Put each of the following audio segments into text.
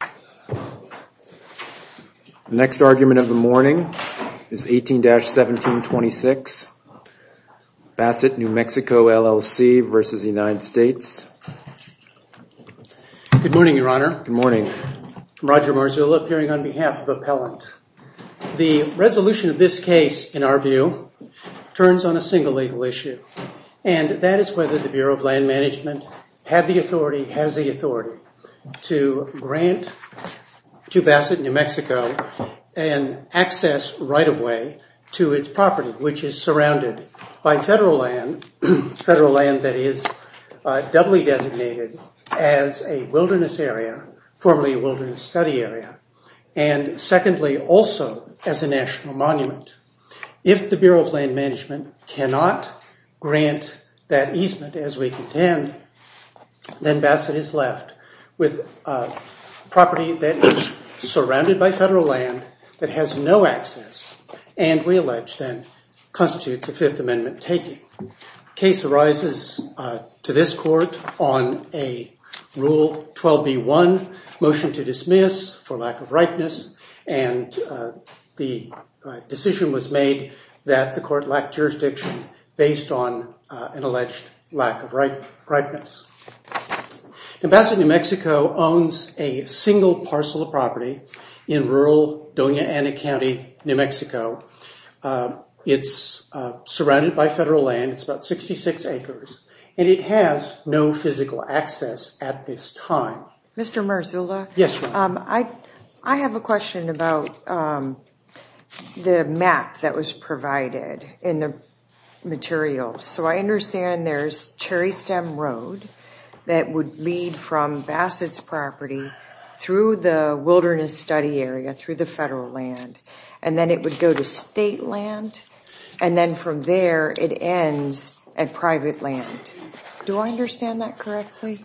The next argument of the morning is 18-1726, Bassett, New Mexico LLC v. United States. Good morning, Your Honor. Good morning. I'm Roger Marzullo, appearing on behalf of Appellant. The resolution of this case, in our view, turns on a single legal issue, and that is whether the Bureau of Land Management had the authority, has the authority to grant to Bassett, New Mexico, an access right-of-way to its property, which is surrounded by federal land, federal land that is doubly designated as a wilderness area, formerly a wilderness study area, and secondly, also as a national monument. If the Bureau of Land Management cannot grant that easement, as we contend, then Bassett is left with a property that is surrounded by federal land that has no access and we allege then constitutes a Fifth Amendment taking. The case arises to this court on a Rule 12b-1, Motion to Dismiss for Lack of Rightness, and the decision was made that the court lacked jurisdiction based on an alleged lack of rightness. Bassett, New Mexico, owns a single parcel of property in rural Doña Ana County, New Mexico. It's surrounded by federal land. It's about 66 acres, and it has no physical access at this time. Mr. Marzullo. Yes, Your Honor. I have a question about the map that was provided in the material. So I understand there's Cherry Stem Road that would lead from Bassett's property through the wilderness study area, through the federal land, and then it would go to state land, and then from there it ends at private land. Do I understand that correctly?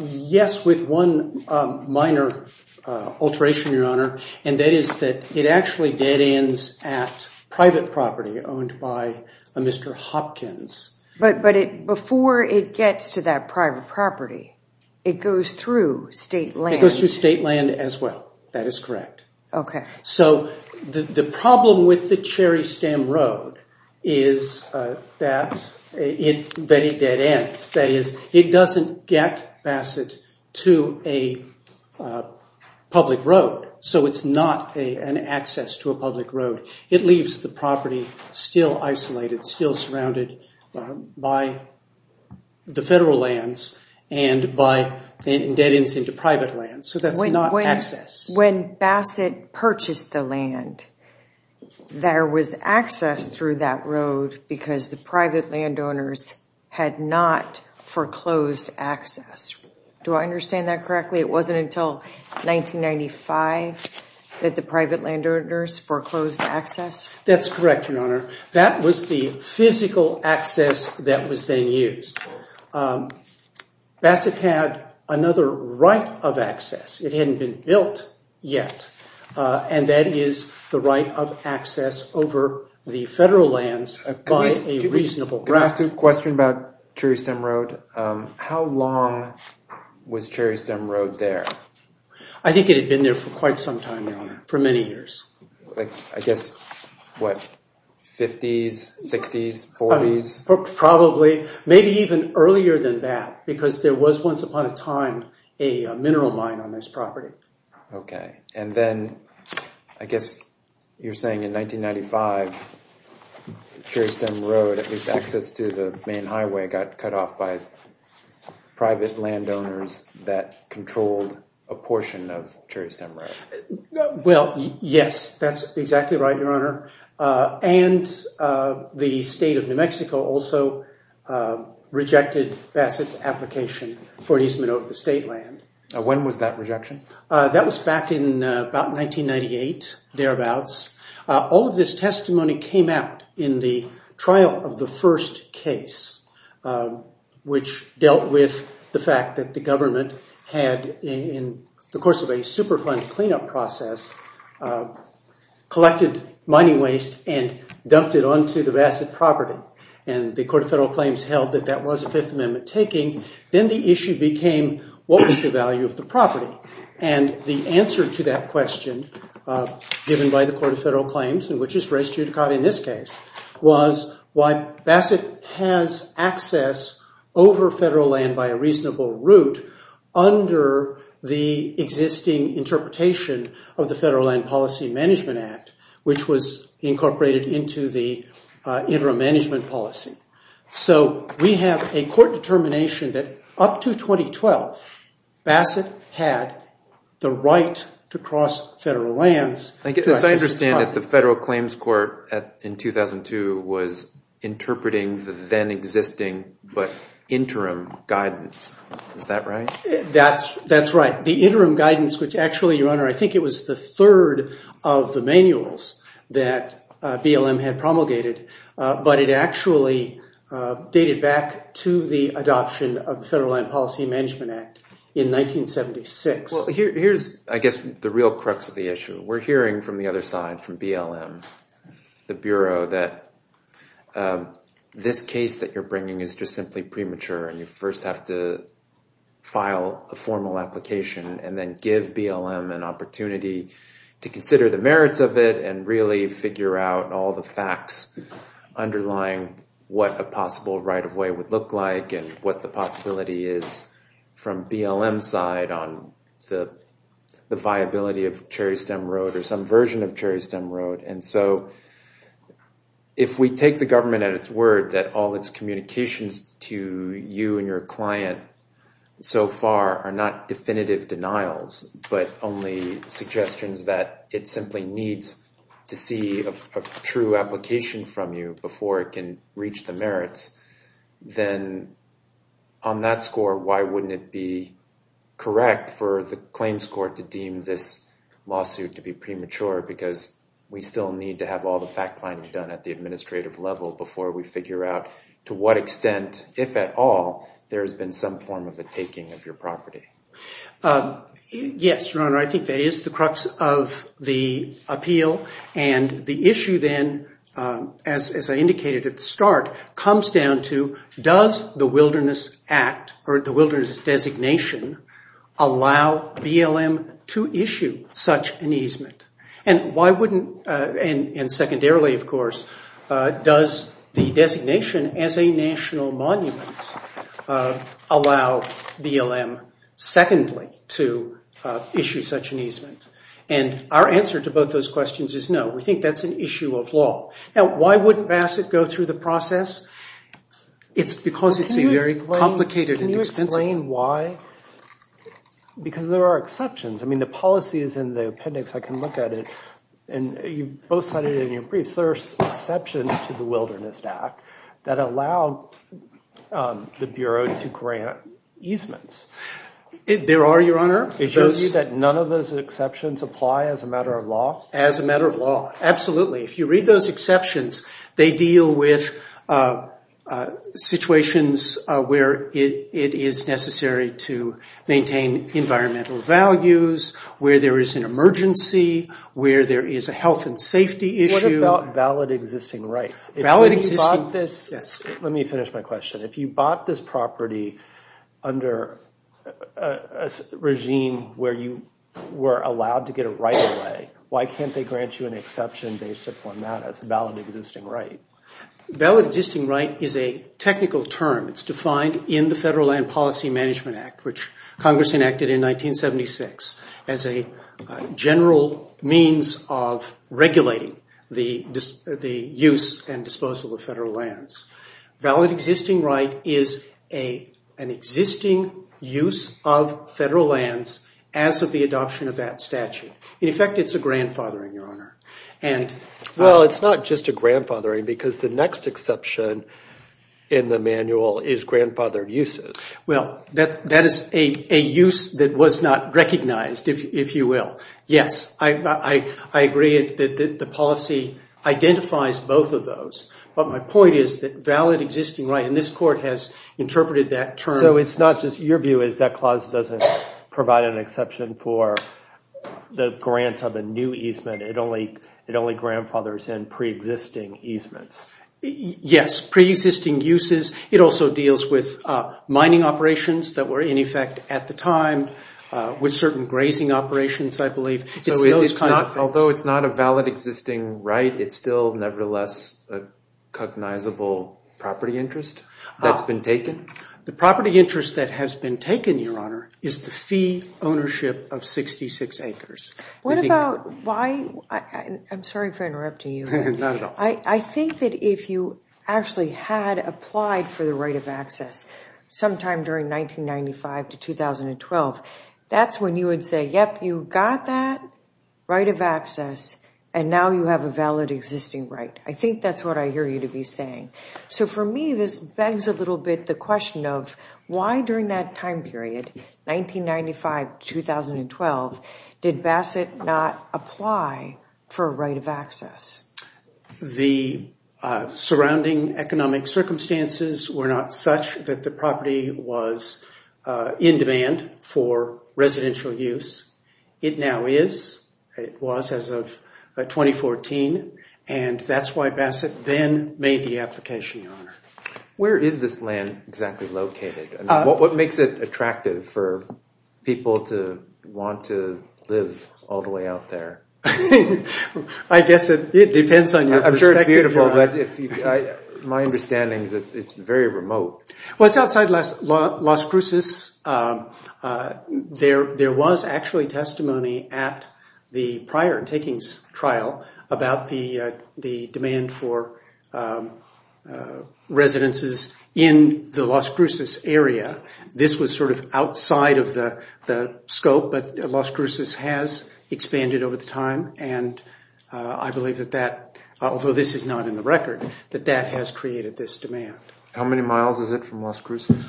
Yes, with one minor alteration, Your Honor, and that is that it actually dead ends at private property owned by a Mr. Hopkins. But before it gets to that private property, it goes through state land. It goes through state land as well. That is correct. Okay. So the problem with the Cherry Stem Road is that it dead ends. That is, it doesn't get Bassett to a public road. So it's not an access to a public road. It leaves the property still isolated, still surrounded by the federal lands and by dead ends into private lands. So that's not access. When Bassett purchased the land, there was access through that road because the private landowners had not foreclosed access. Do I understand that correctly? It wasn't until 1995 that the private landowners foreclosed access? That's correct, Your Honor. That was the physical access that was then used. Bassett had another right of access. It hadn't been built yet, and that is the right of access over the federal lands by a reasonable route. Can I ask a question about Cherry Stem Road? How long was Cherry Stem Road there? I think it had been there for quite some time, Your Honor, for many years. I guess, what, 50s, 60s, 40s? Probably, maybe even earlier than that because there was once upon a time a mineral mine on this property. Okay. And then, I guess you're saying in 1995, Cherry Stem Road, at least access to the main highway, got cut off by private landowners that controlled a portion of Cherry Stem Road. Well, yes, that's exactly right, Your Honor. And the state of New Mexico also rejected Bassett's application for easement over the state land. When was that rejection? That was back in about 1998, thereabouts. All of this testimony came out in the trial of the first case, which dealt with the fact that the government had, in the course of a Superfund cleanup process, collected mining waste and dumped it onto the Bassett property. And the Court of Federal Claims held that that was a Fifth Amendment taking. Then the issue became, what was the value of the property? And the answer to that question, given by the Court of Federal Claims, which is race judicata in this case, was why Bassett has access over federal land by a reasonable route under the existing interpretation of the Federal Land Policy Management Act, which was incorporated into the interim management policy. So we have a court determination that up to 2012, Bassett had the right to cross federal lands. As I understand it, the Federal Claims Court in 2002 was interpreting the then existing but interim guidance. Is that right? That's right. The interim guidance, which actually, Your Honor, I think it was the third of the manuals that BLM had promulgated, but it actually dated back to the adoption of the Federal Land Policy Management Act in 1976. Well, here's, I guess, the real crux of the issue. We're hearing from the other side, from BLM, the Bureau, that this case that you're bringing is just simply premature and you first have to file a formal application and then give BLM an opportunity to consider the merits of it and really figure out all the facts underlying what a possible right-of-way would look like and what the possibility is from BLM's side on the viability of Cherry Stem Road or some version of Cherry Stem Road. And so if we take the government at its word that all its communications to you and your client so far are not definitive denials, but only suggestions that it simply needs to see a true application from you before it can reach the merits, then on that score, why wouldn't it be correct for the claims court to deem this lawsuit to be premature because we still need to have all the fact-finding done at the administrative level before we figure out to what extent, if at all, there's been some form of a taking of your property. Yes, Your Honor, I think that is the crux of the appeal and the issue then, as I indicated at the start, comes down to does the Wilderness Act or the Wilderness designation allow BLM to issue such an easement? And why wouldn't, and secondarily, of course, does the designation as a national monument allow BLM, secondly, to issue such an easement? And our answer to both those questions is no. We think that's an issue of law. Now, why wouldn't Bassett go through the process? It's because it's a very complicated and expensive... Can you explain why? Because there are exceptions. I mean, the policies in the appendix, I can look at it, and you both cited it in your briefs, there are exceptions to the Wilderness Act that allow the Bureau to grant easements. There are, Your Honor. It shows you that none of those exceptions apply as a matter of law? As a matter of law, absolutely. If you read those exceptions, they deal with situations where it is necessary to maintain environmental values, where there is an emergency, where there is a health and safety issue. What about valid existing rights? Let me finish my question. If you bought this property under a regime where you were allowed to get a right-of-way, why can't they grant you an exception based upon that as a valid existing right? Valid existing right is a technical term. It's defined in the Federal Land Policy Management Act, which Congress enacted in 1976 as a general means of regulating the use and disposal of federal lands. Valid existing right is an existing use of federal lands as of the adoption of that statute. In effect, it's a grandfathering, Your Honor. Well, it's not just a grandfathering because the next exception in the manual is grandfathered uses. Well, that is a use that was not recognized, if you will. Yes, I agree that the policy identifies both of those, but my point is that valid existing right, and this Court has interpreted that term. So it's not just your view is that clause doesn't provide an exception for the grant of a new easement. It only grandfathers in preexisting easements. Yes, preexisting uses. It also deals with mining operations that were in effect at the time with certain grazing operations, I believe. Although it's not a valid existing right, it's still nevertheless a cognizable property interest that's been taken. The property interest that has been taken, Your Honor, is the fee ownership of 66 acres. I'm sorry for interrupting you. Not at all. I think that if you actually had applied for the right of access sometime during 1995 to 2012, that's when you would say, yep, you got that right of access, and now you have a valid existing right. I think that's what I hear you to be saying. So for me this begs a little bit the question of why during that time period, 1995 to 2012, did Bassett not apply for a right of access? The surrounding economic circumstances were not such that the property was in demand for residential use. It now is. It was as of 2014, and that's why Bassett then made the application, Your Honor. Where is this land exactly located? What makes it attractive for people to want to live all the way out there? I guess it depends on your perspective. I'm sure it's beautiful, but my understanding is it's very remote. Well, it's outside Las Cruces. There was actually testimony at the prior takings trial about the demand for residences in the Las Cruces area. This was sort of outside of the scope, but Las Cruces has expanded over the time, and I believe that that, although this is not in the record, that that has created this demand. How many miles is it from Las Cruces?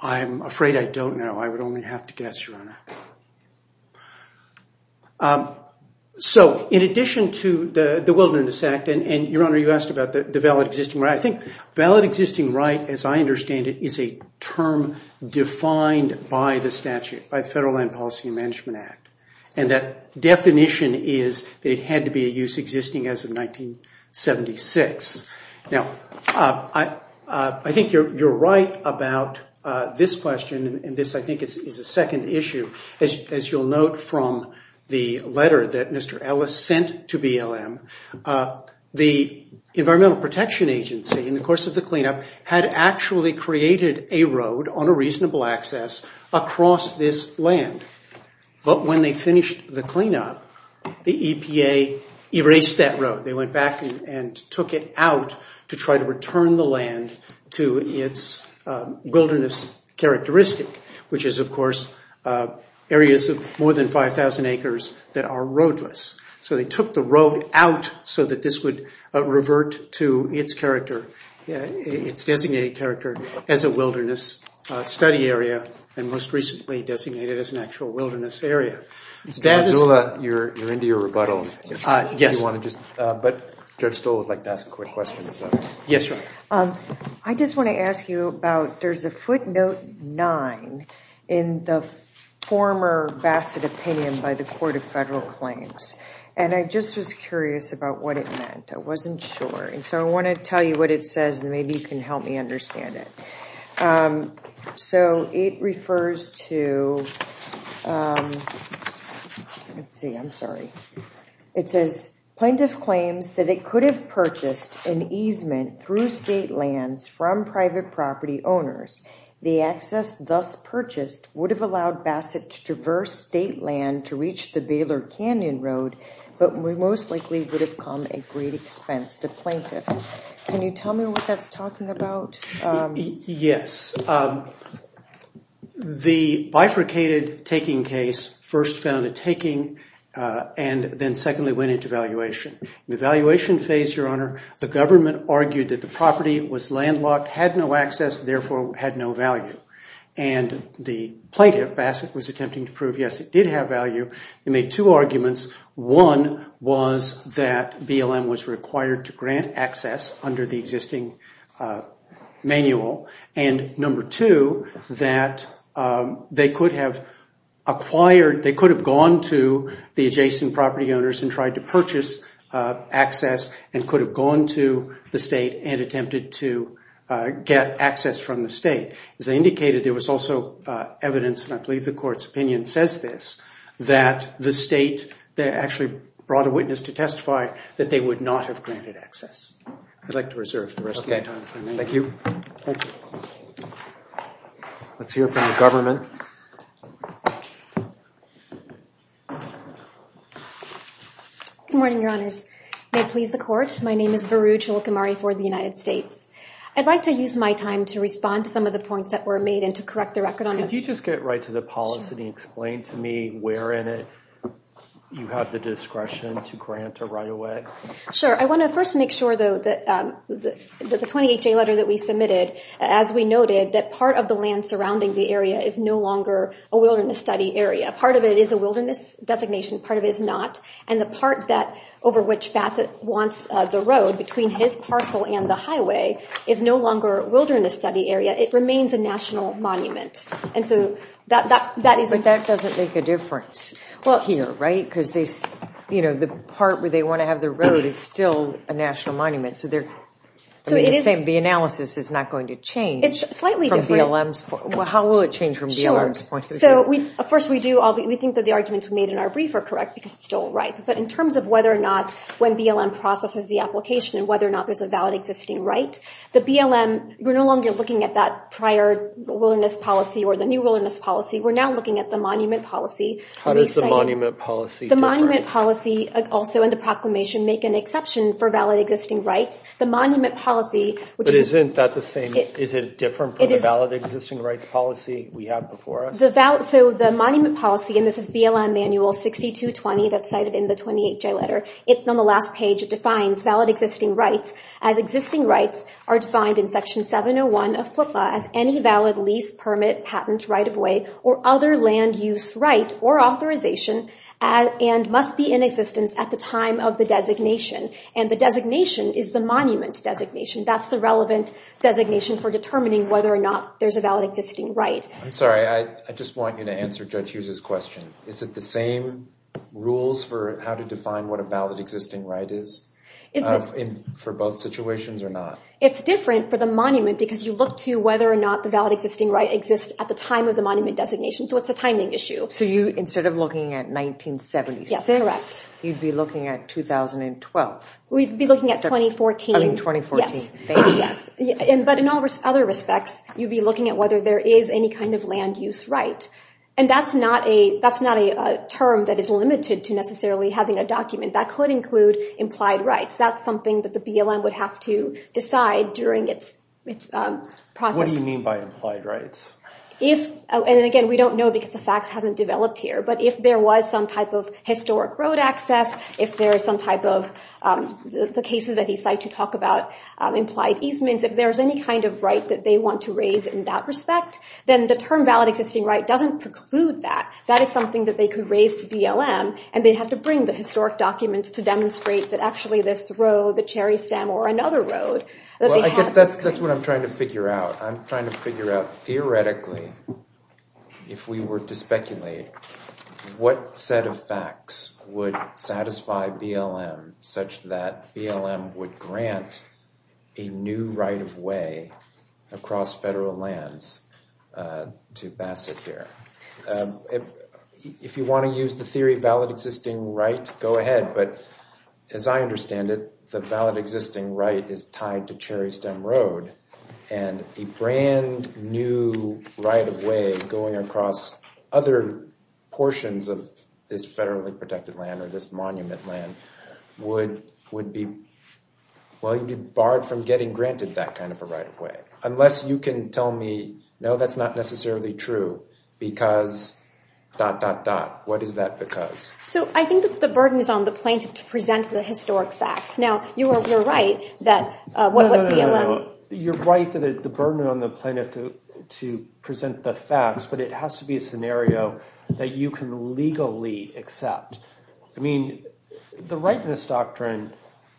I'm afraid I don't know. I would only have to guess, Your Honor. So in addition to the Wilderness Act, and, Your Honor, you asked about the valid existing right. I think valid existing right, as I understand it, is a term defined by the statute, by the Federal Land Policy and Management Act, and that definition is that it had to be a use existing as of 1976. Now, I think you're right about this question, and this, I think, is a second issue. As you'll note from the letter that Mr. Ellis sent to BLM, the Environmental Protection Agency, in the course of the cleanup, had actually created a road on a reasonable access across this land. But when they finished the cleanup, the EPA erased that road. They went back and took it out to try to return the land to its wilderness characteristic, which is, of course, areas of more than 5,000 acres that are roadless. So they took the road out so that this would revert to its character, its designated character as a wilderness study area, and most recently designated as an actual wilderness area. Judge Stoll, you're into your rebuttal. Yes. But Judge Stoll would like to ask a quick question. Yes, Your Honor. I just want to ask you about, there's a footnote 9 in the former Bassett opinion by the Court of Federal Claims, and I just was curious about what it meant. I wasn't sure, and so I want to tell you what it says, and maybe you can help me understand it. So it refers to, let's see, I'm sorry. It says, Plaintiff claims that it could have purchased an easement through state lands from private property owners. The access thus purchased would have allowed Bassett to traverse state land to reach the Baylor Canyon Road, but most likely would have come at great expense to plaintiff. Can you tell me what that's talking about? Yes. The bifurcated taking case first found a taking and then secondly went into valuation. In the valuation phase, Your Honor, the government argued that the property was landlocked, had no access, and therefore had no value. And the plaintiff, Bassett, was attempting to prove, yes, it did have value. They made two arguments. One was that BLM was required to grant access under the existing manual, and number two, that they could have acquired, they could have gone to the adjacent property owners and tried to purchase access and could have gone to the state and attempted to get access from the state. As I indicated, there was also evidence, and I believe the Court's opinion says this, that the state actually brought a witness to testify that they would not have granted access. I'd like to reserve the rest of my time. Okay. Thank you. Thank you. Let's hear from the government. Good morning, Your Honors. May it please the Court, my name is Varu Cholukamari for the United States. I'd like to use my time to respond to some of the points that were made and to correct the record on them. Could you just get right to the policy and explain to me where in it you have the discretion to grant a right of way? Sure. I want to first make sure, though, that the 28-J letter that we submitted, as we noted, that part of the land surrounding the area is no longer a wilderness study area. Part of it is a wilderness designation. Part of it is not. And the part over which Bassett wants the road, between his parcel and the highway, is no longer a wilderness study area. It remains a national monument. But that doesn't make a difference here, right? Because the part where they want to have the road, it's still a national monument. So the analysis is not going to change. It's slightly different. How will it change from BLM's point of view? Sure. First, we think that the arguments made in our brief are correct because it's still a right. But in terms of whether or not when BLM processes the application and whether or not there's a valid existing right, the BLM, we're no longer looking at that prior wilderness policy or the new wilderness policy. We're now looking at the monument policy. How does the monument policy differ? The monument policy, also in the proclamation, make an exception for valid existing rights. But isn't that the same? Is it different from the valid existing rights policy we have before us? So the monument policy, and this is BLM Manual 6220 that's cited in the 28-J letter, on the last page it defines valid existing rights as existing rights are defined in Section 701 of FLPA as any valid lease, permit, patent, right-of-way, or other land use right or authorization and must be in existence at the time of the designation. And the designation is the monument designation. That's the relevant designation for determining whether or not there's a valid existing right. I'm sorry. I just want you to answer Judge Hughes' question. Is it the same rules for how to define what a valid existing right is for both situations or not? It's different for the monument because you look to whether or not the valid existing right exists at the time of the monument designation. So it's a timing issue. So instead of looking at 1976, you'd be looking at 2012. We'd be looking at 2014. I mean 2014. Yes. But in other respects, you'd be looking at whether there is any kind of land use right. And that's not a term that is limited to necessarily having a document. That could include implied rights. That's something that the BLM would have to decide during its process. What do you mean by implied rights? And again, we don't know because the facts haven't developed here. But if there was some type of historic road access, if there is some type of cases that he cited to talk about implied easements, if there's any kind of right that they want to raise in that respect, then the term valid existing right doesn't preclude that. That is something that they could raise to BLM, and they'd have to bring the historic documents to demonstrate that actually this road, the Cherry Stem, or another road that they had. Well, I guess that's what I'm trying to figure out. I'm trying to figure out theoretically if we were to speculate what set of facts would satisfy BLM such that BLM would grant a new right of way across federal lands to Bassett here. If you want to use the theory of valid existing right, go ahead. But as I understand it, the valid existing right is tied to Cherry Stem Road. And a brand new right of way going across other portions of this federally protected land or this monument land would be barred from getting granted that kind of a right of way. Unless you can tell me, no, that's not necessarily true because dot, dot, dot. What is that because? So I think that the burden is on the plaintiff to present the historic facts. Now, you're right that what would BLM – No, no, no. You're right that the burden is on the plaintiff to present the facts, but it has to be a scenario that you can legally accept. I mean, the rightness doctrine,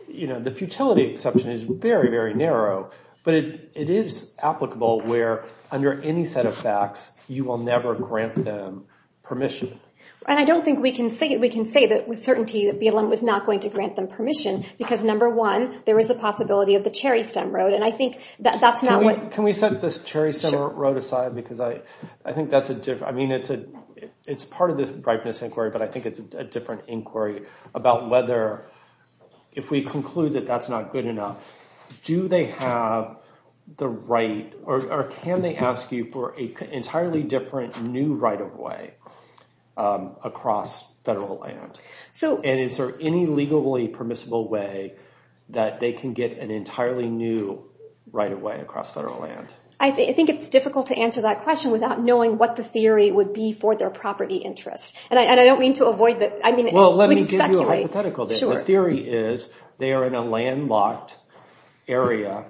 the futility exception is very, very narrow, but it is applicable where under any set of facts you will never grant them permission. And I don't think we can say that with certainty that BLM was not going to grant them permission because, number one, there is a possibility of the Cherry Stem Road. And I think that's not what – Can we set this Cherry Stem Road aside because I think that's a – I mean, it's part of the brightness inquiry, but I think it's a different inquiry about whether if we conclude that that's not good enough, do they have the right – or can they ask you for an entirely different new right-of-way across federal land? And is there any legally permissible way that they can get an entirely new right-of-way across federal land? I think it's difficult to answer that question without knowing what the theory would be for their property interest. And I don't mean to avoid the – I mean, we can speculate. Well, let me give you a hypothetical. The theory is they are in a landlocked area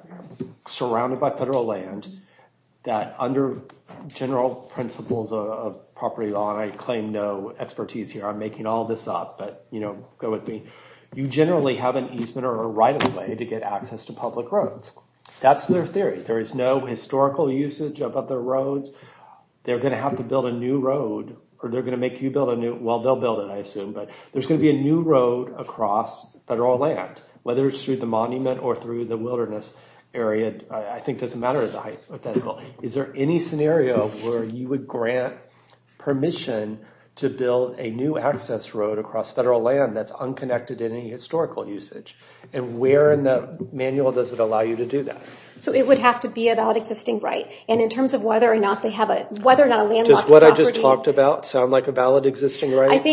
surrounded by federal land that under general principles of property law, and I claim no expertise here. I'm making all this up, but go with me. You generally have an easement or a right-of-way to get access to public roads. That's their theory. There is no historical usage of other roads. They're going to have to build a new road, or they're going to make you build a new – well, they'll build it, I assume. But there's going to be a new road across federal land, whether it's through the monument or through the wilderness area. I think it doesn't matter as a hypothetical. Is there any scenario where you would grant permission to build a new access road across federal land that's unconnected in any historical usage? And where in the manual does it allow you to do that? So it would have to be a valid existing right. And in terms of whether or not they have a – whether or not a landlocked property – Does what I just talked about sound like a valid existing right?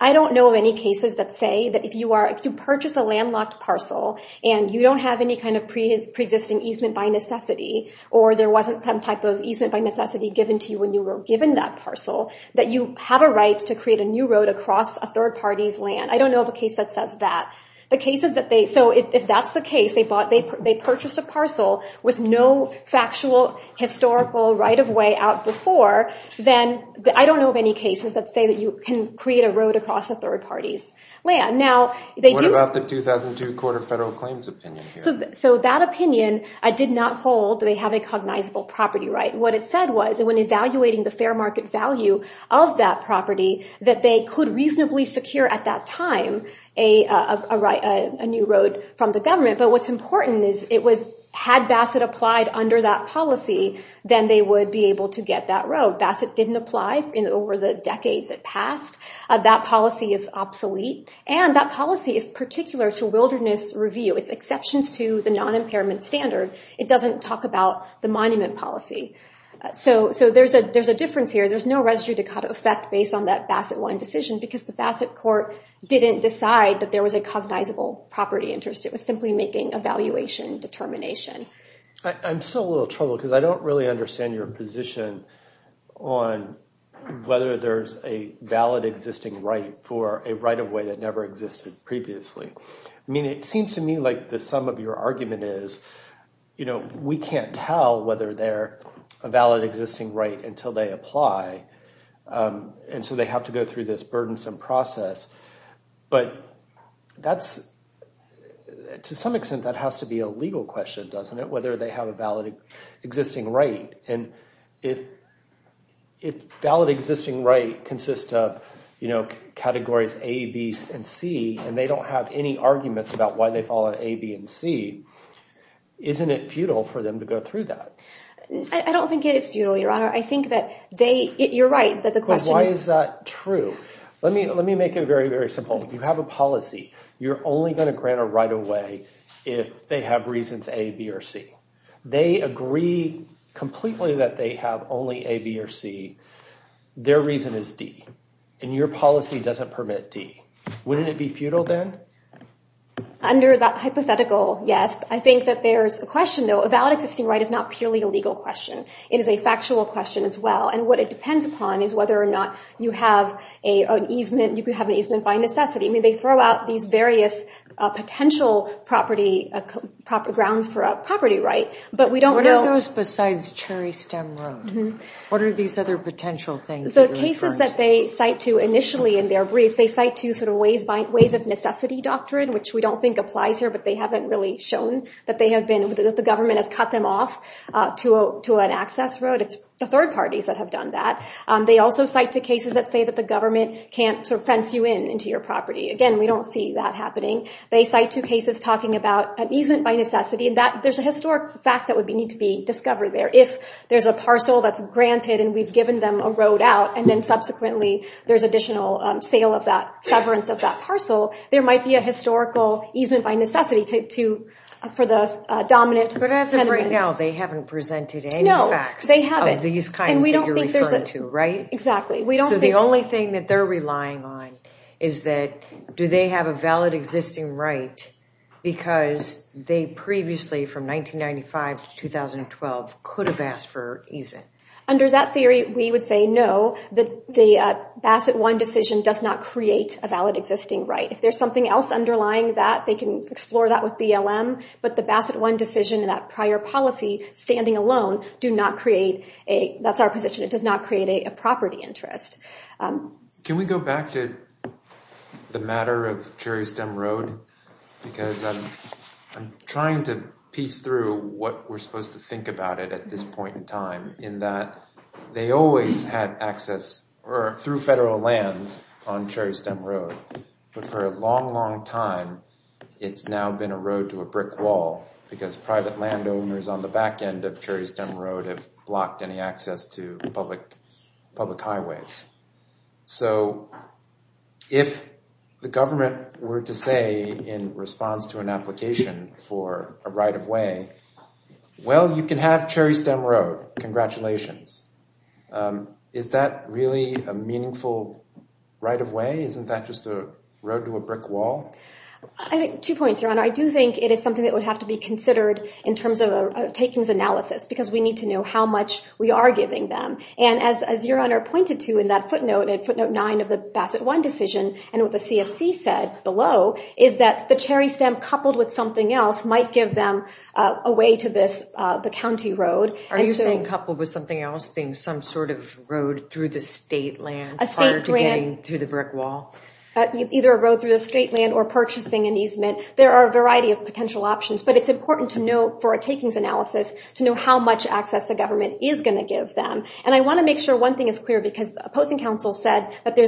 I don't know of any cases that say that if you purchase a landlocked parcel, and you don't have any kind of pre-existing easement by necessity, or there wasn't some type of easement by necessity given to you when you were given that parcel, that you have a right to create a new road across a third party's land. I don't know of a case that says that. So if that's the case, they purchased a parcel with no factual historical right-of-way out before, then I don't know of any cases that say that you can create a road across a third party's land. What about the 2002 Court of Federal Claims opinion here? So that opinion did not hold that they have a cognizable property right. What it said was that when evaluating the fair market value of that property, that they could reasonably secure at that time a new road from the government. But what's important is it was had Bassett applied under that policy, then they would be able to get that road. Bassett didn't apply in over the decade that passed. That policy is obsolete, and that policy is particular to wilderness review. It's exceptions to the non-impairment standard. It doesn't talk about the monument policy. So there's a difference here. There's no residue to cut effect based on that Bassett one decision, because the Bassett court didn't decide that there was a cognizable property interest. It was simply making evaluation determination. I'm still a little troubled because I don't really understand your position on whether there's a valid existing right for a right-of-way that never existed previously. I mean, it seems to me like the sum of your argument is, you know, we can't tell whether they're a valid existing right until they apply, and so they have to go through this burdensome process. But that's—to some extent, that has to be a legal question, doesn't it, whether they have a valid existing right. And if valid existing right consists of, you know, categories A, B, and C, and they don't have any arguments about why they fall on A, B, and C, isn't it futile for them to go through that? I don't think it is futile, Your Honor. I think that they—you're right, that the question is— let me make it very, very simple. If you have a policy, you're only going to grant a right-of-way if they have reasons A, B, or C. They agree completely that they have only A, B, or C. Their reason is D, and your policy doesn't permit D. Wouldn't it be futile then? Under that hypothetical, yes. I think that there's a question, though. A valid existing right is not purely a legal question. It is a factual question as well. And what it depends upon is whether or not you have an easement— you could have an easement by necessity. I mean, they throw out these various potential grounds for a property right, but we don't know— What are those besides Cherry Stem Road? What are these other potential things that you're referring to? The cases that they cite to initially in their briefs, they cite to sort of ways of necessity doctrine, which we don't think applies here, but they haven't really shown that they have been— that the government has cut them off to an access road. It's the third parties that have done that. They also cite to cases that say that the government can't fence you in into your property. Again, we don't see that happening. They cite to cases talking about an easement by necessity, and there's a historic fact that would need to be discovered there. If there's a parcel that's granted and we've given them a road out, and then subsequently there's additional sale of that—severance of that parcel, there might be a historical easement by necessity for the dominant— But as of right now, they haven't presented any facts. They haven't. Of these kinds that you're referring to, right? Exactly. So the only thing that they're relying on is that do they have a valid existing right because they previously, from 1995 to 2012, could have asked for easement? Under that theory, we would say no. The Bassett 1 decision does not create a valid existing right. If there's something else underlying that, they can explore that with BLM, but the Bassett 1 decision and that prior policy standing alone do not create a— That's our position. It does not create a property interest. Can we go back to the matter of Cherry Stem Road? Because I'm trying to piece through what we're supposed to think about it at this point in time, in that they always had access through federal lands on Cherry Stem Road, but for a long, long time, it's now been a road to a brick wall because private landowners on the back end of Cherry Stem Road have blocked any access to public highways. So if the government were to say in response to an application for a right-of-way, well, you can have Cherry Stem Road. Congratulations. Is that really a meaningful right-of-way? Isn't that just a road to a brick wall? Two points, Your Honor. I do think it is something that would have to be considered in terms of a takings analysis because we need to know how much we are giving them. And as Your Honor pointed to in that footnote at footnote 9 of the Bassett 1 decision and what the CFC said below is that the Cherry Stem coupled with something else might give them a way to the county road. Are you saying coupled with something else being some sort of road through the state land prior to getting to the brick wall? Either a road through the state land or purchasing an easement. There are a variety of potential options, but it's important to know for a takings analysis to know how much access the government is going to give them. And I want to make sure one thing is clear because opposing counsel said that they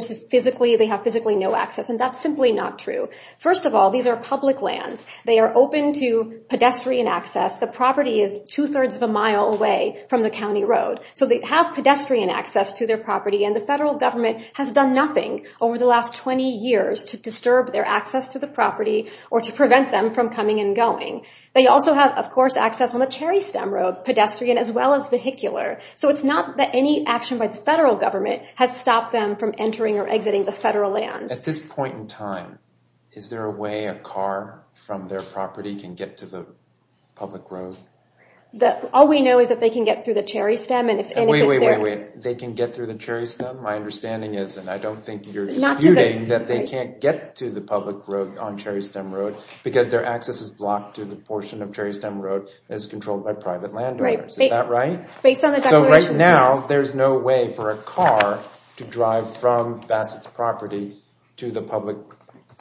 have physically no access, and that's simply not true. First of all, these are public lands. They are open to pedestrian access. The property is two-thirds of a mile away from the county road. So they have pedestrian access to their property, and the federal government has done nothing over the last 20 years to disturb their access to the property or to prevent them from coming and going. They also have, of course, access on the Cherry Stem road, pedestrian as well as vehicular. So it's not that any action by the federal government has stopped them from entering or exiting the federal lands. At this point in time, is there a way a car from their property can get to the public road? All we know is that they can get through the Cherry Stem. Wait, wait, wait, wait. They can get through the Cherry Stem? My understanding is, and I don't think you're disputing, that they can't get to the public road on Cherry Stem road because their access is blocked to the portion of Cherry Stem road that is controlled by private landowners. Is that right? Based on the declarations, yes. So right now there's no way for a car to drive from Bassett's property to the public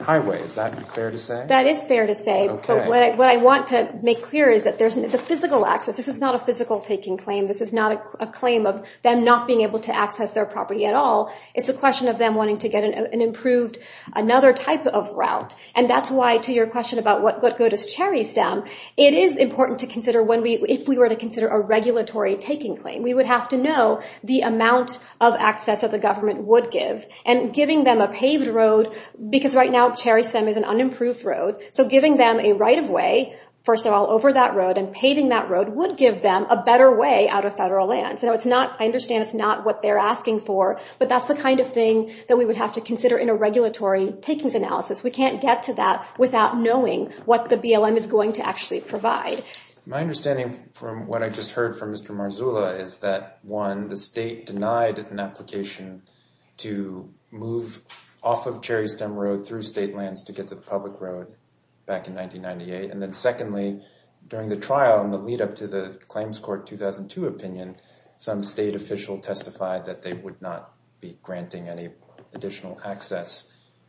highway. Is that fair to say? That is fair to say. But what I want to make clear is that there's the physical access. This is not a physical taking claim. This is not a claim of them not being able to access their property at all. It's a question of them wanting to get an improved, another type of route. And that's why, to your question about what good is Cherry Stem, it is important to consider if we were to consider a regulatory taking claim. We would have to know the amount of access that the government would give. And giving them a paved road, because right now Cherry Stem is an unimproved road, so giving them a right-of-way, first of all, over that road, and paving that road would give them a better way out of federal lands. I understand it's not what they're asking for, but that's the kind of thing that we would have to consider in a regulatory takings analysis. We can't get to that without knowing what the BLM is going to actually provide. My understanding from what I just heard from Mr. Marzulla is that, one, the state denied an application to move off of Cherry Stem Road through state lands to get to the public road back in 1998. And then secondly, during the trial in the lead-up to the Claims Court 2002 opinion, some state official testified that they would not be granting any additional access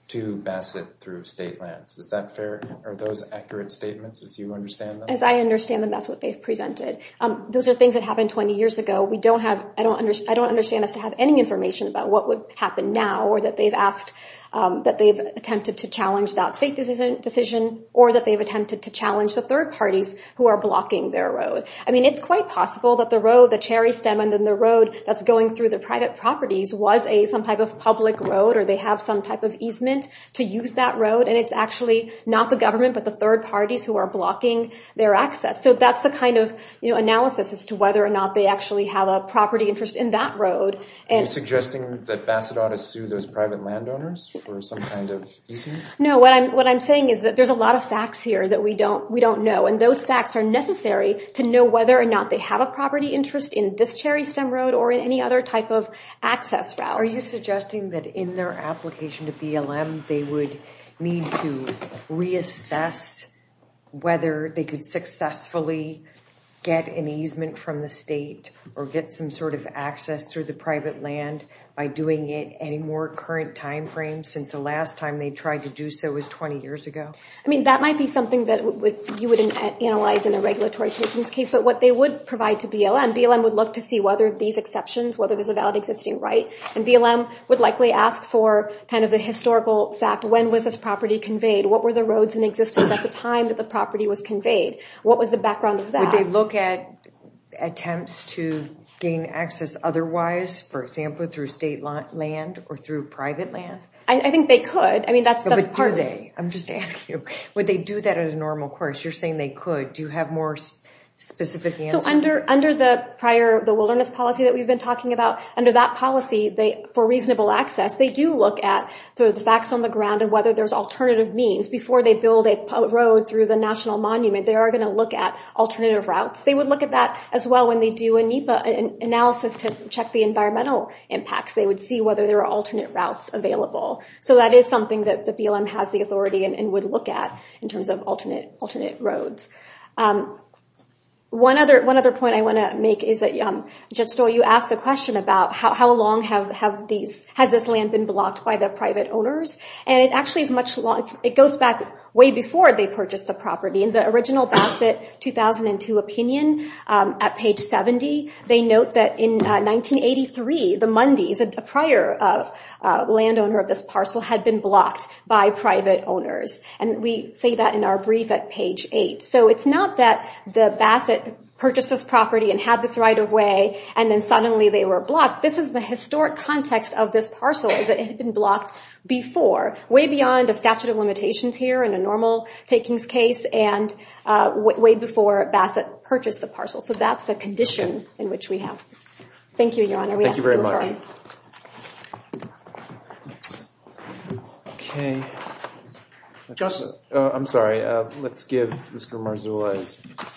to Bassett through state lands. Is that fair? Are those accurate statements, as you understand them? As I understand them, that's what they've presented. Those are things that happened 20 years ago. I don't understand us to have any information about what would happen now, or that they've attempted to challenge that state decision, or that they've attempted to challenge the third parties who are blocking their road. I mean, it's quite possible that the road, the Cherry Stem, and then the road that's going through the private properties was some type of public road, or they have some type of easement to use that road, and it's actually not the government but the third parties who are blocking their access. So that's the kind of analysis as to whether or not they actually have a property interest in that road. Are you suggesting that Bassett ought to sue those private landowners for some kind of easement? No, what I'm saying is that there's a lot of facts here that we don't know, and those facts are necessary to know whether or not they have a property interest in this Cherry Stem road or in any other type of access route. Are you suggesting that in their application to BLM, they would need to reassess whether they could successfully get an easement from the state or get some sort of access through the private land by doing it any more current timeframe since the last time they tried to do so was 20 years ago? I mean, that might be something that you would analyze in a regulatory systems case, but what they would provide to BLM, BLM would look to see whether these exceptions, whether there's a valid existing right, and BLM would likely ask for kind of a historical fact. When was this property conveyed? What were the roads in existence at the time that the property was conveyed? What was the background of that? Would they look at attempts to gain access otherwise, for example, through state land or through private land? I think they could. I mean, that's part of it. But do they? I'm just asking you. Would they do that as a normal course? You're saying they could. Do you have more specific answers? So under the prior wilderness policy that we've been talking about, under that policy for reasonable access, they do look at sort of the facts on the ground and whether there's alternative means. Before they build a road through the National Monument, they are going to look at alternative routes. They would look at that as well when they do a NEPA analysis to check the environmental impacts. They would see whether there are alternate routes available. So that is something that the BLM has the authority and would look at in terms of alternate roads. One other point I want to make is that, Jedstow, you asked the question about how long has this land been blocked by the private owners? And it actually is much longer. It goes back way before they purchased the property. In the original Bassett 2002 opinion at page 70, they note that in 1983, the Mundys, a prior landowner of this parcel, had been blocked by private owners. And we say that in our brief at page 8. So it's not that the Bassett purchased this property and had this right of way, and then suddenly they were blocked. This is the historic context of this parcel is that it had been blocked before, way beyond a statute of limitations here in a normal takings case and way before Bassett purchased the parcel. So that's the condition in which we have. Thank you, Your Honor. Thank you very much. I'm sorry. Let's give Mr. Marzullo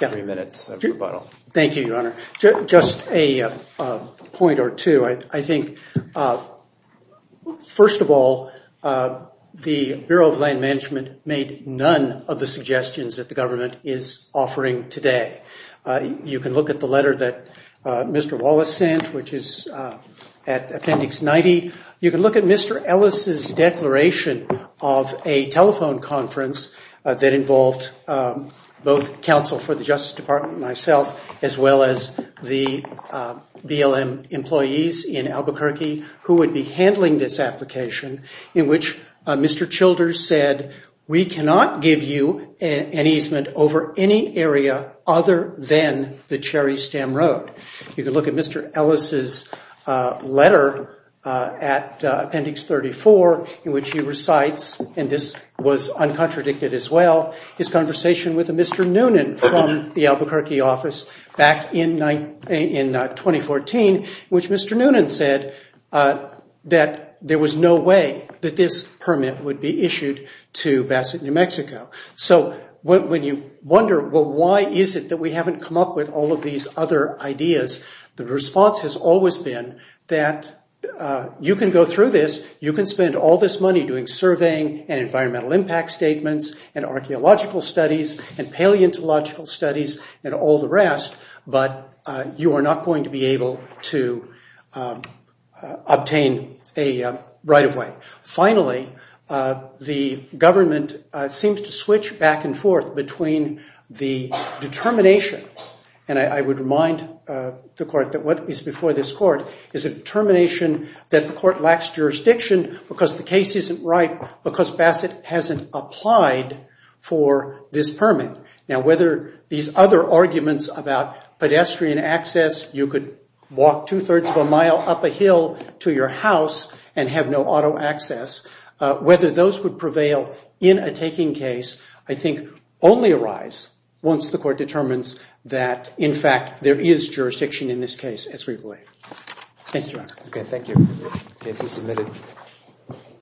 three minutes of rebuttal. Thank you, Your Honor. Just a point or two. I think, first of all, the Bureau of Land Management made none of the suggestions that the government is offering today. You can look at the letter that Mr. Wallace sent, which is at appendix 90. You can look at Mr. Ellis' declaration of a telephone conference that involved both counsel for the Justice Department and myself, as well as the BLM employees in Albuquerque, who would be handling this application, in which Mr. Childers said, we cannot give you an easement over any area other than the Cherry Stem Road. You can look at Mr. Ellis' letter at appendix 34, in which he recites, and this was uncontradicted as well, his conversation with Mr. Noonan from the Albuquerque office back in 2014, which Mr. Noonan said that there was no way that this permit would be issued to Basset, New Mexico. So when you wonder, well, why is it that we haven't come up with all of these other ideas, the response has always been that you can go through this, you can spend all this money doing surveying and environmental impact statements and archeological studies and paleontological studies and all the rest, but you are not going to be able to obtain a right-of-way. Finally, the government seems to switch back and forth between the determination, and I would remind the court that what is before this court, is a determination that the court lacks jurisdiction because the case isn't right, because Basset hasn't applied for this permit. Now, whether these other arguments about pedestrian access, you could walk two-thirds of a mile up a hill to your house and have no auto access, whether those would prevail in a taking case, I think only arise once the court determines that, in fact, there is jurisdiction in this case, as we believe. Thank you, Your Honor. Okay, thank you. Case is submitted.